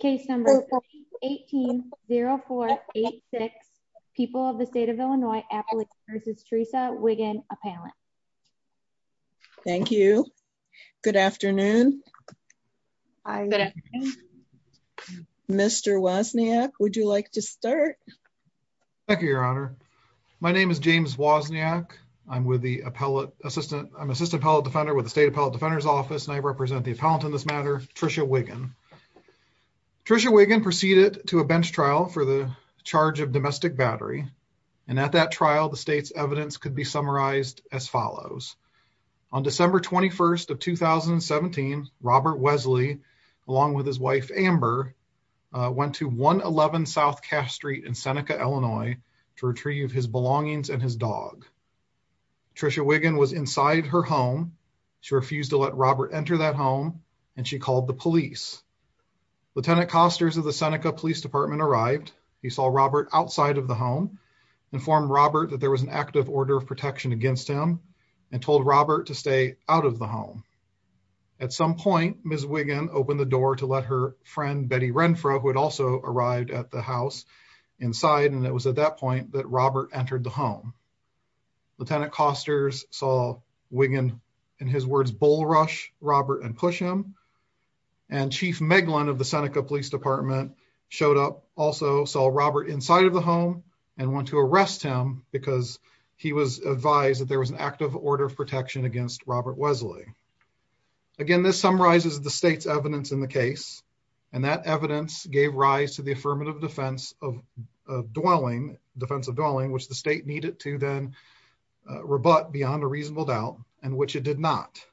case number 18 0486 people of the state of Illinois appellate versus Teresa Wiggen appellant thank you good afternoon Mr. Wozniak would you like to start thank you your honor my name is James Wozniak I'm with the appellate assistant I'm assistant appellate defender with the state appellate defender's office and I'm here to talk to you about Tricia Wiggen. Tricia Wiggen proceeded to a bench trial for the charge of domestic battery and at that trial the state's evidence could be summarized as follows on December 21st of 2017 Robert Wesley along with his wife Amber went to 111 South Cash Street in Seneca Illinois to retrieve his belongings and his dog. Tricia Wiggen was inside her home she refused to let Robert enter that home and she called the police. Lieutenant Costers of the Seneca Police Department arrived he saw Robert outside of the home informed Robert that there was an active order of protection against him and told Robert to stay out of the home. At some point Ms. Wiggen opened the door to let her friend Betty Renfro who had also arrived at the house inside and it was at that point that Robert entered the home. Lieutenant Costers saw Wiggen in his words bull rush Robert and push him and Chief Meglin of the Seneca Police Department showed up also saw Robert inside of the home and went to arrest him because he was advised that there was an active order of protection against Robert Wesley. Again this summarizes the state's evidence in the case and that evidence gave rise to the affirmative defense of dwelling which the state needed to then rebut beyond a reasonable doubt and which it did not.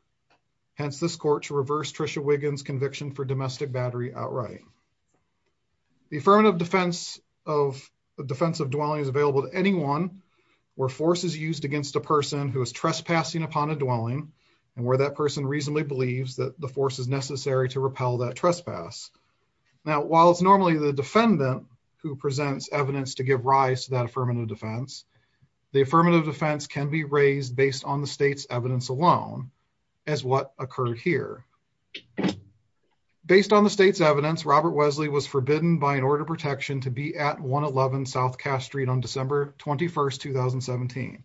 Hence this court to reverse Tricia Wiggen's conviction for domestic battery outright. The affirmative defense of the defense of dwelling is available to anyone where force is used against a person who is trespassing upon a dwelling and where that person reasonably believes that the force is necessary to repel that trespass. Now while it's normally the defendant who presents evidence to give rise to that affirmative defense the affirmative defense can be raised based on the state's evidence alone as what occurred here. Based on the state's evidence Robert Wesley was forbidden by an order of protection to be at 111 South Cass Street on December 21st 2017.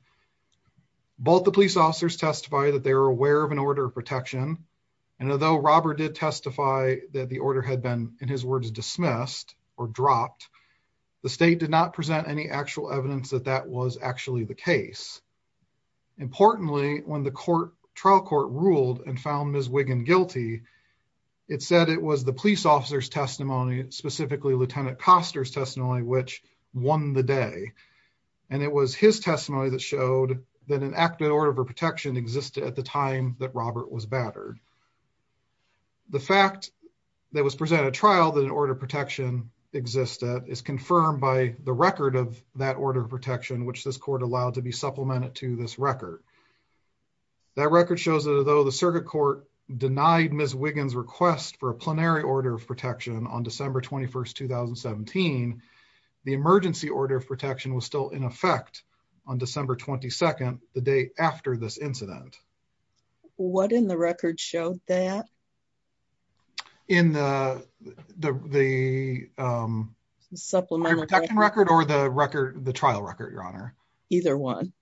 Both the police officers testify that they were aware of an order of protection and although Robert did testify that the order had been in his words dismissed or dropped the state did not present any actual evidence that that was actually the case. Importantly when the court trial court ruled and found Ms. Wiggen guilty it said it was the police officer's testimony specifically Lieutenant Koster's testimony which won the day and it was his testimony that showed that an active order of protection existed at the time that Robert was existed is confirmed by the record of that order of protection which this court allowed to be supplemented to this record. That record shows that although the circuit court denied Ms. Wiggen's request for a plenary order of protection on December 21st 2017 the emergency order of protection was still in effect on December 22nd the day after this incident. What in the record showed that? In the the the supplementary record or the record the trial record your honor? Either one.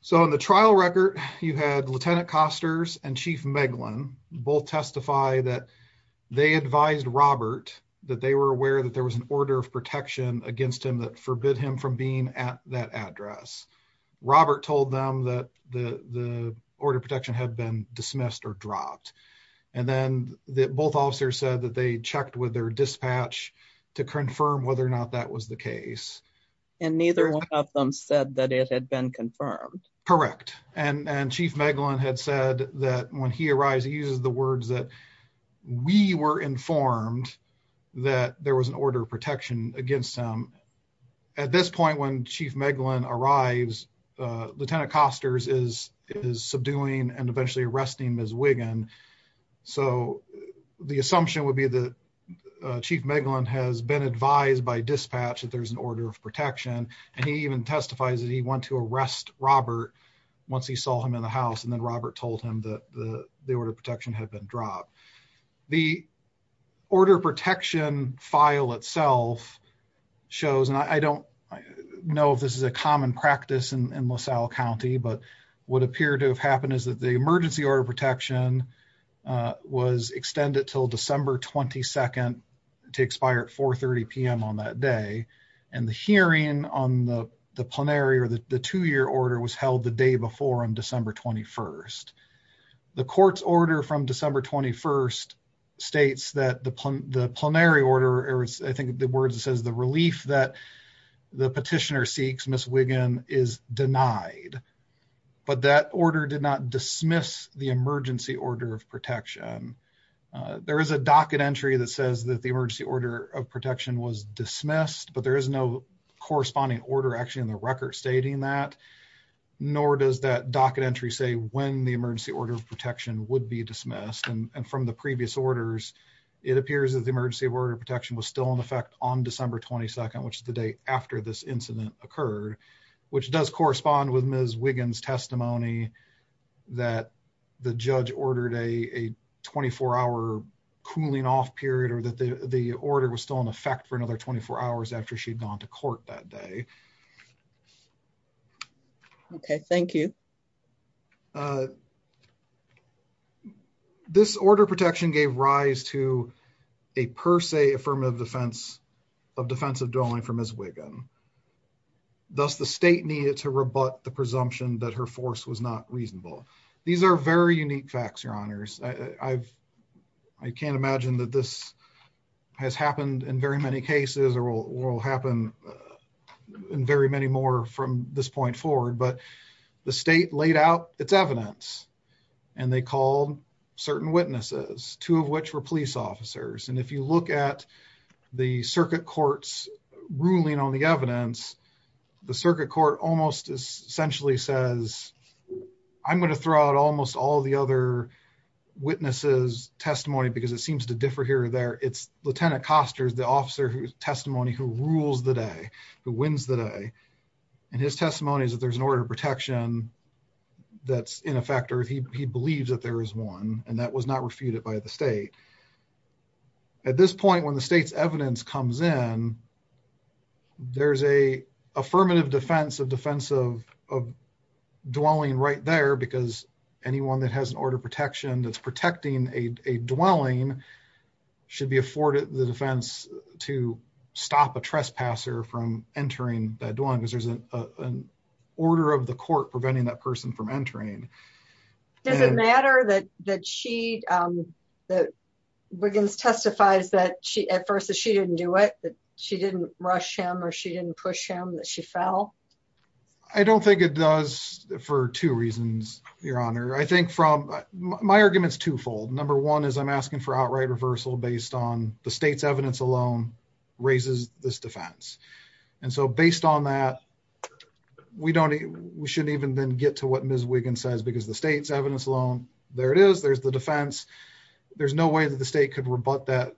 So in the trial record you had Lieutenant Koster's and Chief Meglin both testify that they advised Robert that they were aware that there was an order of protection against him that forbid him from being at that address. Robert told them that the the order of protection had been dismissed or dropped and then the both officers said that they checked with their dispatch to confirm whether or not that was the case. And neither one of them said that it had been confirmed. Correct and and Chief Meglin had said that when he arrives he uses the words that we were informed that there was an order of protection against him. At this point when Chief Meglin arrives Lieutenant Koster's is is subduing and eventually arresting Ms. Wiggen. So the assumption would be that Chief Meglin has been advised by dispatch that there's an order of protection and he even testifies that he went to arrest Robert once he saw him in the house and then Robert told him that the the order of protection had been dropped. The order of protection file itself shows and I don't know if this is a common practice in LaSalle County but what appeared to have happened is that the emergency order of protection was extended till December 22nd to expire at 4 30 p.m. on that day and the hearing on the the plenary or the two-year order was held the day before on December 21st. The court's order from December 21st states that the plenary order or I think the words it relieves that the petitioner seeks Ms. Wiggen is denied but that order did not dismiss the emergency order of protection. There is a docket entry that says that the emergency order of protection was dismissed but there is no corresponding order actually in the record stating that nor does that docket entry say when the emergency order of protection would be dismissed and from the previous orders it appears that the emergency order of protection was still in effect on December 22nd which is the day after this incident occurred which does correspond with Ms. Wiggen's testimony that the judge ordered a 24-hour cooling off period or that the the order was still in effect for another 24 hours after she'd gone to court that day. Okay thank you. This order protection gave rise to a per se affirmative defense of defensive dwelling for Ms. Wiggen. Thus the state needed to rebut the presumption that her force was not reasonable. These are very unique facts your honors. I can't imagine that this has happened in very many cases or will happen in very many more from this point forward but the state laid out its evidence and they called certain witnesses two of which were police officers and if you look at the circuit court's ruling on the evidence the circuit court almost essentially says I'm going to throw out almost all the other witnesses testimony because it seems to differ it's lieutenant costars the officer whose testimony who rules the day who wins the day and his testimony is that there's an order of protection that's in effect or he believes that there is one and that was not refuted by the state. At this point when the state's evidence comes in there's a affirmative defense of defensive of dwelling right there because anyone that has an order of protection that's protecting a dwelling should be afforded the defense to stop a trespasser from entering that dwelling because there's an order of the court preventing that person from entering. Does it matter that that she that Wiggins testifies that she at first that she didn't do it that she didn't rush him or she didn't push him that she fell? I don't think it does for two reasons your honor. I think from my arguments twofold number one is I'm asking for outright reversal based on the state's evidence alone raises this defense and so based on that we don't we shouldn't even then get to what Ms. Wiggins says because the state's evidence alone there it is there's the defense there's no way that the state could rebut that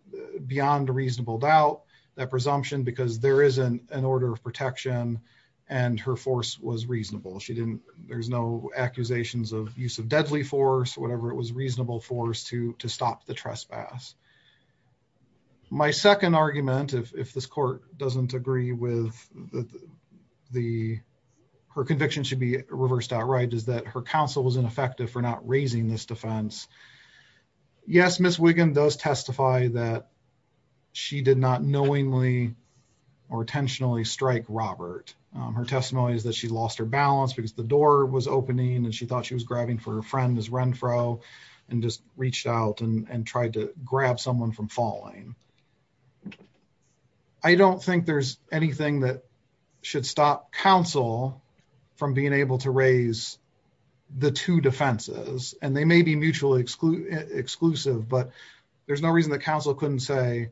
presumption because there isn't an order of protection and her force was reasonable she didn't there's no accusations of use of deadly force whatever it was reasonable force to to stop the trespass. My second argument if this court doesn't agree with the the her conviction should be reversed outright is that her counsel was ineffective for not raising this defense. Yes Ms. Wiggins does testify that she did not knowingly or intentionally strike Robert. Her testimony is that she lost her balance because the door was opening and she thought she was grabbing for her friend Ms. Renfrow and just reached out and and tried to grab someone from falling. I don't think there's anything that should stop counsel from being able to raise the two defenses and they may be mutually exclusive but there's no reason that counsel couldn't say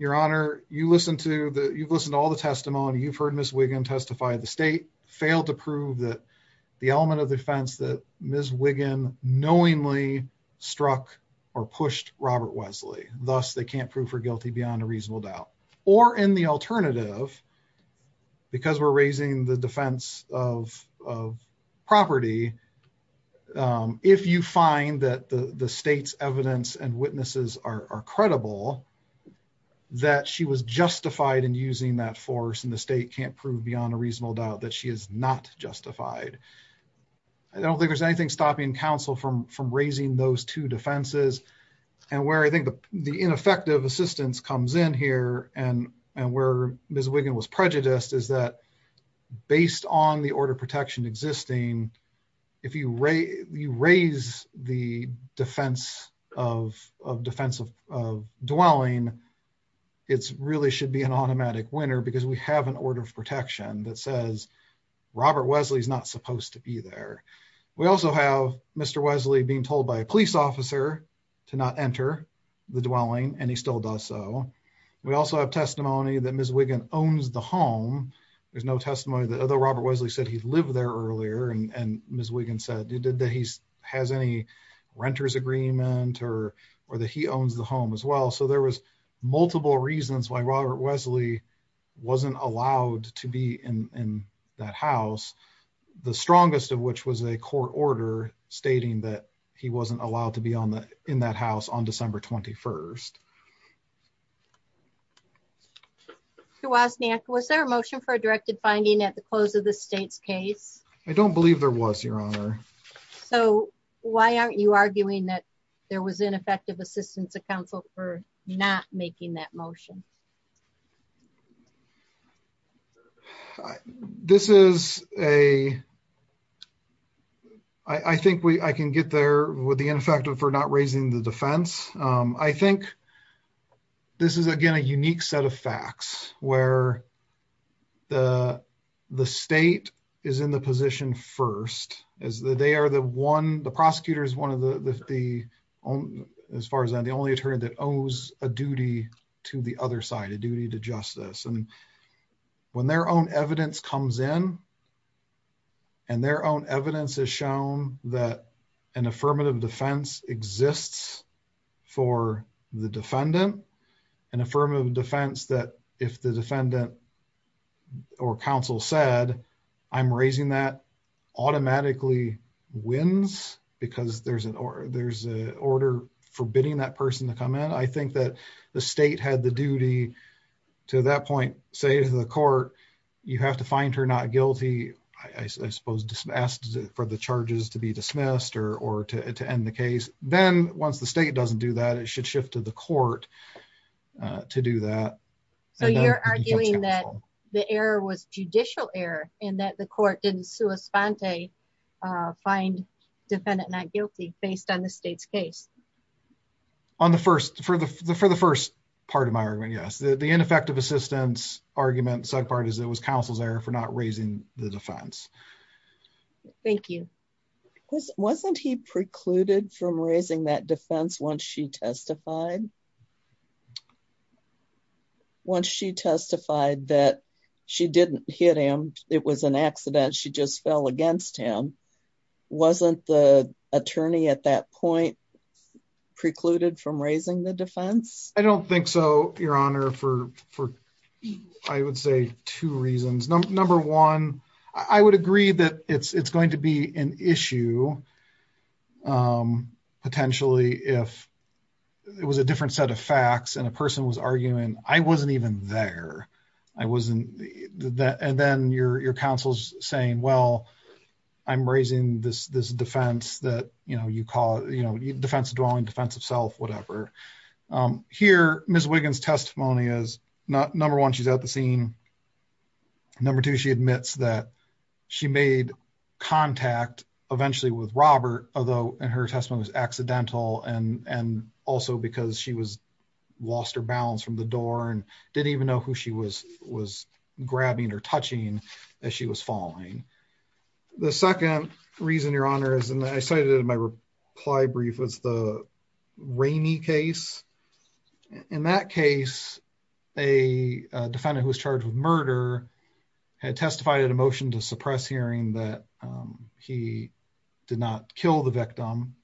your honor you listened to the you've listened to all the testimony you've heard Ms. Wiggin testify the state failed to prove that the element of defense that Ms. Wiggin knowingly struck or pushed Robert Wesley thus they can't prove her guilty beyond a reasonable doubt or in the alternative because we're raising the defense of of property if you find that the the state's evidence and witnesses are credible that she was justified in using that force and the state can't prove beyond a reasonable doubt that she is not justified I don't think there's anything stopping counsel from from raising those two defenses and where I think the ineffective assistance comes in here and and where Ms. Wiggin was prejudiced is that based on the order of protection existing if you raise you raise the defense of of defensive of dwelling it's really should be an automatic winner because we have an order of protection that says Robert Wesley is not supposed to be there we also have Mr. Wesley being told by police officer to not enter the dwelling and he still does so we also have testimony that Ms. Wiggin owns the home there's no testimony that although Robert Wesley said he lived there earlier and and Ms. Wiggin said he did that he has any renter's agreement or or that he owns the home as well so there was multiple reasons why Robert Wesley wasn't allowed to be in in that house the strongest of which was a court order stating that he wasn't allowed to be on the in that house on December 21st was there a motion for a directed finding at the close of the state's case I don't believe there was your honor so why aren't you arguing that there was ineffective assistance of counsel for not making that motion I this is a I think we I can get there with the ineffective for not raising the defense I think this is again a unique set of facts where the the state is in the position first is that they are the one the prosecutor is one of the the own as far as I'm the only attorney that a duty to the other side a duty to justice and when their own evidence comes in and their own evidence has shown that an affirmative defense exists for the defendant an affirmative defense that if the defendant or counsel said I'm raising that automatically wins because there's an order there's a order forbidding that person to come in I think that the state had the duty to that point say to the court you have to find her not guilty I suppose for the charges to be dismissed or to end the case then once the state doesn't do that it should shift to the court to do that so you're arguing that the error was judicial error and the court didn't find defendant not guilty based on the state's case on the first for the for the first part of my argument yes the ineffective assistance argument said part is it was counsel's error for not raising the defense thank you wasn't he precluded from raising that defense once she testified once she testified that she didn't hit him it was an accident she just fell against him wasn't the attorney at that point precluded from raising the defense I don't think so your honor for for I would say two reasons number one I would agree that it's it's going to be an issue potentially if it was a different set of facts and a person was arguing I wasn't even there I wasn't that and then your your counsel's saying well I'm raising this this defense that you know you call you know defensive dwelling defensive self whatever here Ms. Wiggins testimony is not number one she's at the scene number two she admits that she made contact eventually with Robert although in her testimony was accidental and and also because she was lost her balance from the door and didn't even know who she was was grabbing or touching as she was falling the second reason your honor is and I cited it in my reply brief was the rainy case in that case a defendant who was charged with murder had testified at a motion to suppress hearing that he did not kill the victim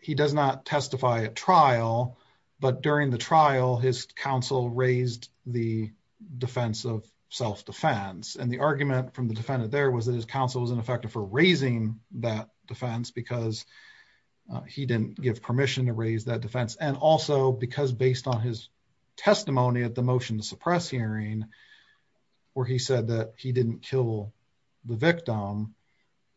he does not testify at trial but during the trial his counsel raised the defense of self-defense and the argument from the defendant there was that his counsel was ineffective for raising that defense because he didn't give permission to raise that defense and also because based on his testimony at the motion to suppress hearing where he said that he didn't kill the victim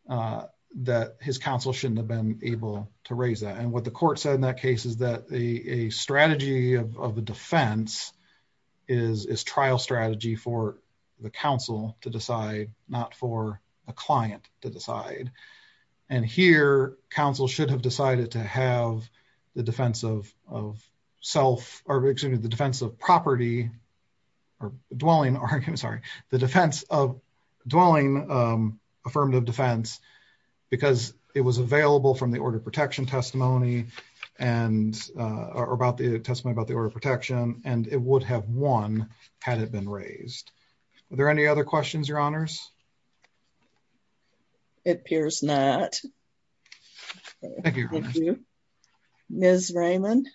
that his counsel shouldn't have been able to raise that and what the court said in that case is that the a strategy of the defense is is trial strategy for the counsel to decide not for a client to decide and here counsel should have decided to have the defense of of self or excuse me the defense of property or dwelling argument sorry the defense of dwelling um affirmative defense because it was available from the order protection testimony and uh about the testimony about the order of protection and it would have won had it been raised are there any other questions your honors it appears not thank you thank you ms raymond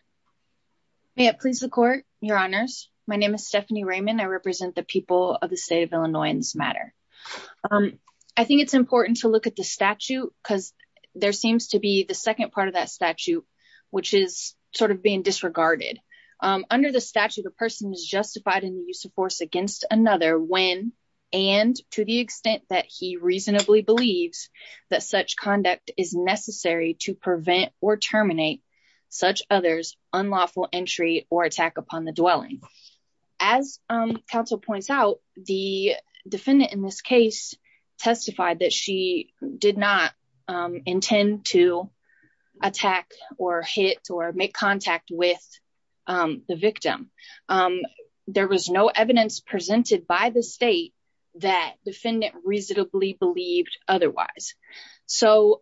may it please the court your honors my name is stephanie raymond i represent the people of the state of illinois matter um i think it's important to look at the statute because there seems to be the second part of that statute which is sort of being disregarded um under the statute a person is justified in the and to the extent that he reasonably believes that such conduct is necessary to prevent or terminate such others unlawful entry or attack upon the dwelling as counsel points out the defendant in this case testified that she did not intend to attack or hit or make contact with um the victim um there was no evidence presented by the state that defendant reasonably believed otherwise so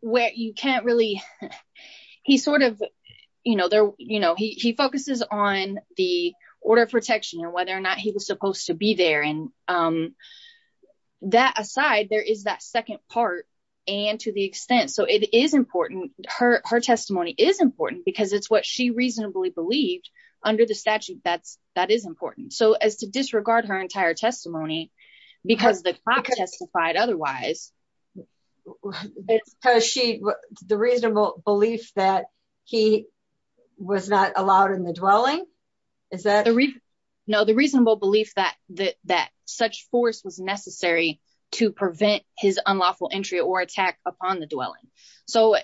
where you can't really he sort of you know they're you know he he focuses on the order of protection and whether or not he was supposed to be there and um that aside there is that second part and to the extent so it is important her her testimony is important because it's what she reasonably believed under the statute that's that is important so as to disregard her entire testimony because the cop testified otherwise it's because she the reasonable belief that he was not allowed in the dwelling is that no the reasonable belief that that that force was necessary to prevent his unlawful entry or attack upon the dwelling so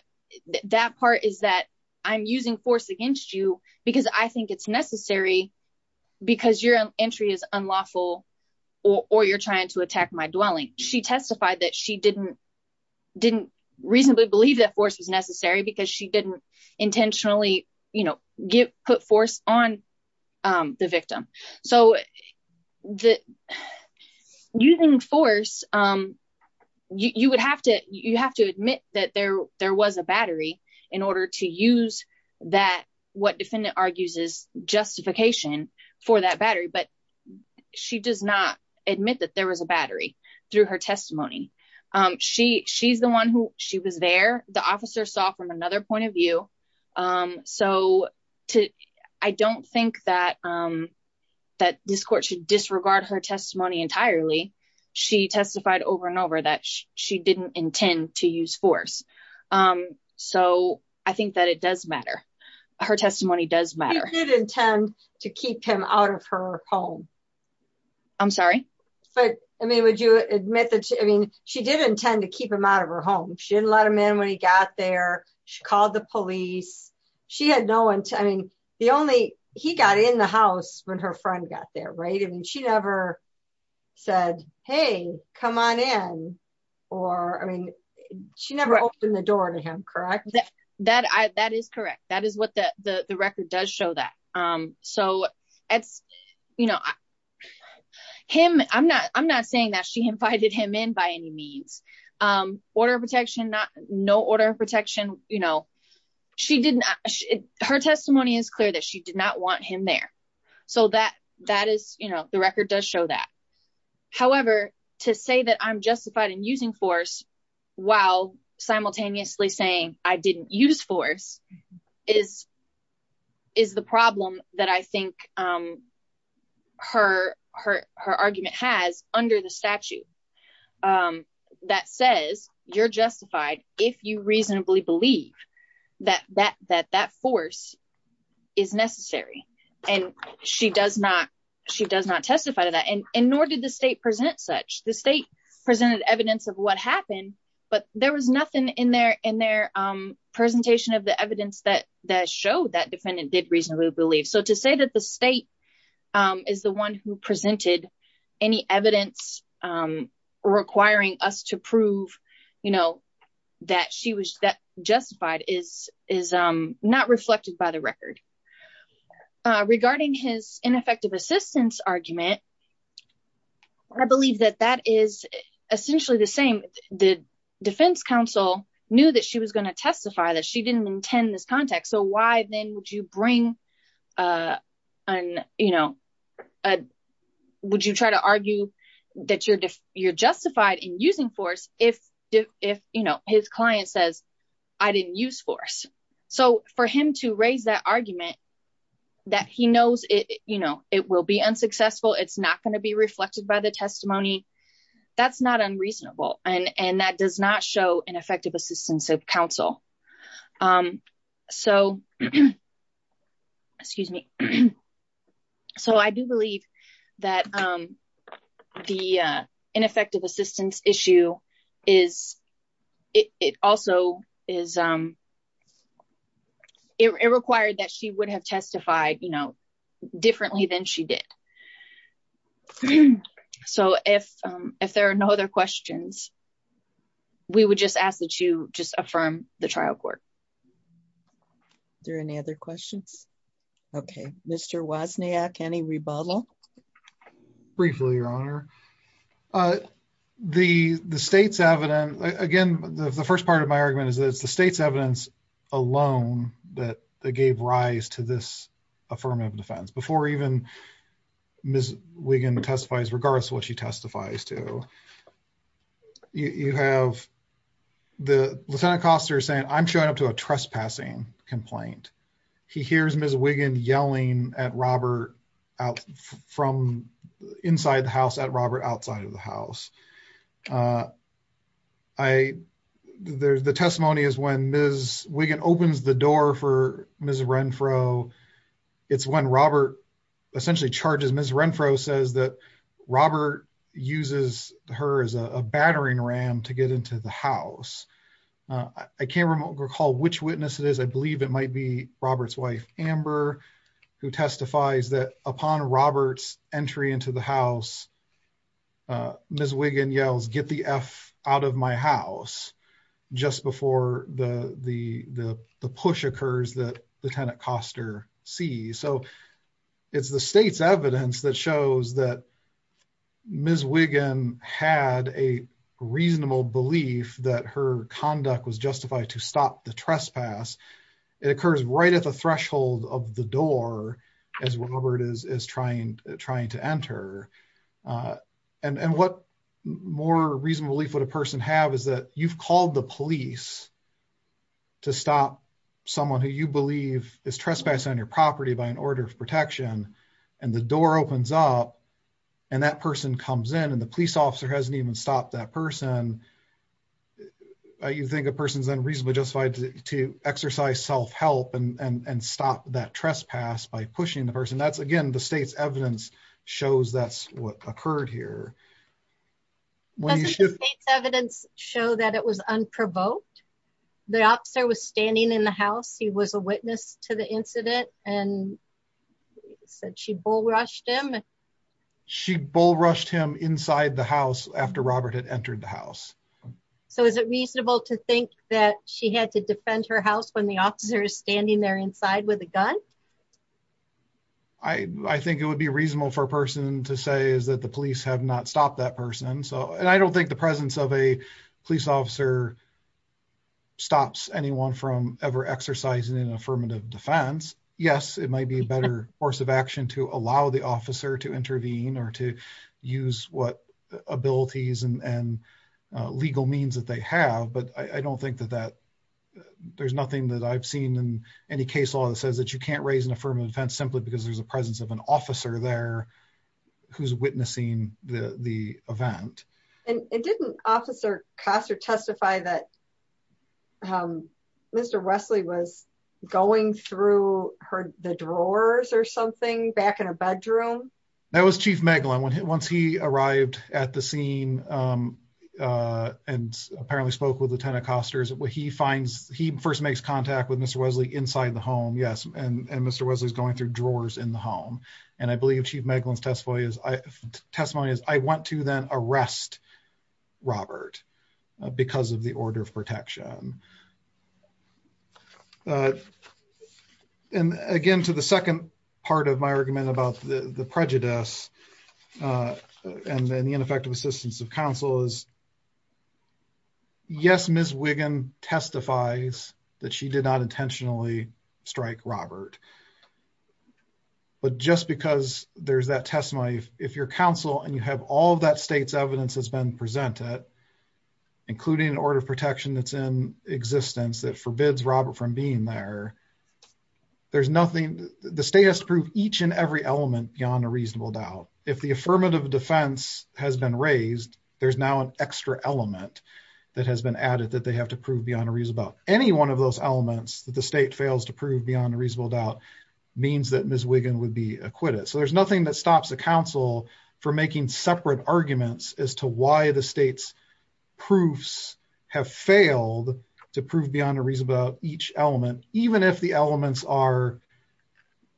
that part is that i'm using force against you because i think it's necessary because your entry is unlawful or you're trying to attack my dwelling she testified that she didn't didn't reasonably believe that force was necessary because she didn't intentionally you know get put force on um the victim so the using force um you you would have to you have to admit that there there was a battery in order to use that what defendant argues is justification for that battery but she does not admit that there was a battery through her testimony um she she's the one who she was there the officer saw from another point of view um so to i don't think that um that this court should disregard her testimony entirely she testified over and over that she didn't intend to use force um so i think that it does matter her testimony does matter he did intend to keep him out of her home i'm sorry but i mean would you admit that i mean she did intend to keep him out of her home she didn't let him in when he got there she called the police she had no one i mean the only he got in the house when her friend got there right and she never said hey come on in or i mean she never opened the door to him correct that that i that is correct that is what the the the record does show that um so it's you know him i'm not i'm not saying that she invited him in by any means um order of protection not no order of protection you know she did not her testimony is clear that she did not want him there so that that is you know the record does show that however to say that i'm justified in using force while simultaneously saying i didn't use force is is the problem that i think um her her her argument has under the statute um that says you're justified if you reasonably believe that that that that force is necessary and she does not she does not testify to that and and nor did the state present such the state presented evidence of what happened but there was nothing in their in their um presentation of the evidence that that showed that defendant did reasonably believe so to say that the state um is the one who presented any evidence um requiring us to prove you know that she was that justified is is um not reflected by the record uh regarding his ineffective assistance argument i believe that that is essentially the same the defense counsel knew that she was going to testify that she didn't intend this context so why then would you bring uh an you know would you try to argue that you're you're justified in using force if if you know his client says i didn't use force so for him to raise that argument that he knows it you know it will be unsuccessful it's not going to be reflected by the testimony that's not unreasonable and and that does not show an effective assistance of counsel um so excuse me so i do believe that um the uh ineffective assistance issue is it also is um it required that she would have testified you know differently than she did so if um if there are no other questions we would just ask that you just affirm the trial court there any other questions okay mr wasniak any rebuttal briefly your honor uh the the state's evidence again the first part of my argument is that it's the state's evidence alone that that gave rise to this affirmative defense before even ms wiggin testifies regards to what she testifies to you have the lieutenant costar saying i'm showing up to a trespassing complaint he hears ms wiggin yelling at robert out from inside the house at robert outside of the house uh i there's the it's when robert essentially charges ms renfro says that robert uses her as a battering ram to get into the house i can't recall which witness it is i believe it might be robert's wife amber who testifies that upon robert's entry into the house uh ms wiggin yells get the f out of my house just before the the the push occurs that lieutenant costar sees so it's the state's evidence that shows that ms wiggin had a reasonable belief that her conduct was justified to stop the trespass it occurs right at the threshold of the door as robert is is trying trying to enter uh and and what more reasonable belief would a person have is that you've called the police to stop someone who you believe is trespassing on your property by an order of protection and the door opens up and that person comes in and the police officer hasn't even stopped that person you think a person's unreasonable justified to exercise self-help and and and that trespass by pushing the person that's again the state's evidence shows that's what occurred here evidence show that it was unprovoked the officer was standing in the house he was a witness to the incident and said she bull rushed him she bull rushed him inside the house after robert had entered the house so is it reasonable to think that she had to defend her house when the officer is standing there inside with a gun i i think it would be reasonable for a person to say is that the police have not stopped that person so and i don't think the presence of a police officer stops anyone from ever exercising an affirmative defense yes it might be a better course of action to allow the officer to intervene or to use what abilities and and means that they have but i i don't think that that there's nothing that i've seen in any case law that says that you can't raise an affirmative defense simply because there's a presence of an officer there who's witnessing the the event and it didn't officer cost or testify that um mr wesley was going through her the drawers or something back in her bedroom that was chief megalan when once he arrived at the scene um uh and apparently spoke with lieutenant costars what he finds he first makes contact with mr wesley inside the home yes and and mr wesley's going through drawers in the home and i believe chief megalan's testimony is i testimony is i want to then arrest robert because of the order of protection um uh and again to the second part of my argument about the the prejudice and then the ineffective assistance of counsel is yes miss wiggin testifies that she did not intentionally strike robert but just because there's that testimony if your counsel and you have all that state's in existence that forbids robert from being there there's nothing the state has to prove each and every element beyond a reasonable doubt if the affirmative defense has been raised there's now an extra element that has been added that they have to prove beyond a reason about any one of those elements that the state fails to prove beyond a reasonable doubt means that miss wiggin would be acquitted so there's nothing that stops the council from making separate arguments as to why the state's proofs have failed to prove beyond a reason about each element even if the elements are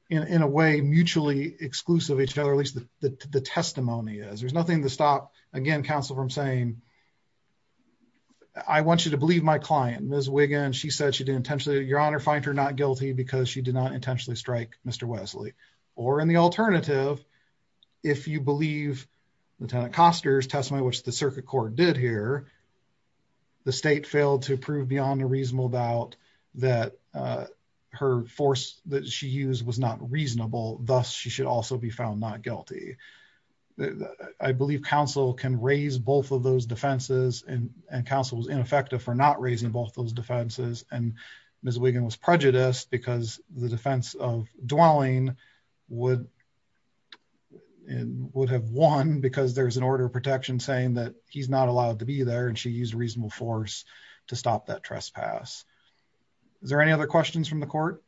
in in a way mutually exclusive each other at least the the testimony is there's nothing to stop again counsel from saying i want you to believe my client miss wiggin she said she didn't intentionally your honor find her not guilty because she did not intentionally strike mr wesley or in the lieutenant coster's testimony which the circuit court did here the state failed to prove beyond a reasonable doubt that uh her force that she used was not reasonable thus she should also be found not guilty i believe counsel can raise both of those defenses and and counsel was ineffective for not raising both those defenses and miss wiggin was prejudiced because the defense of dwelling would and would have won because there's an order of protection saying that he's not allowed to be there and she used reasonable force to stop that trespass is there any other questions from the court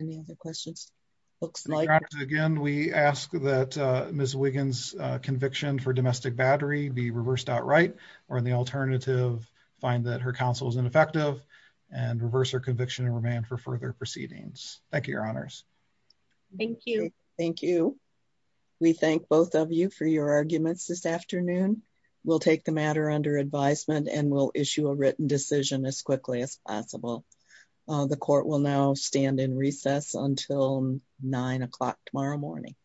any other questions looks like again we ask that uh miss wiggins uh conviction for domestic battery be reversed outright or the alternative find that her counsel is ineffective and reverse conviction and remand for further proceedings thank you your honors thank you thank you we thank both of you for your arguments this afternoon we'll take the matter under advisement and we'll issue a written decision as quickly as possible the court will now stand in recess until nine o'clock tomorrow morning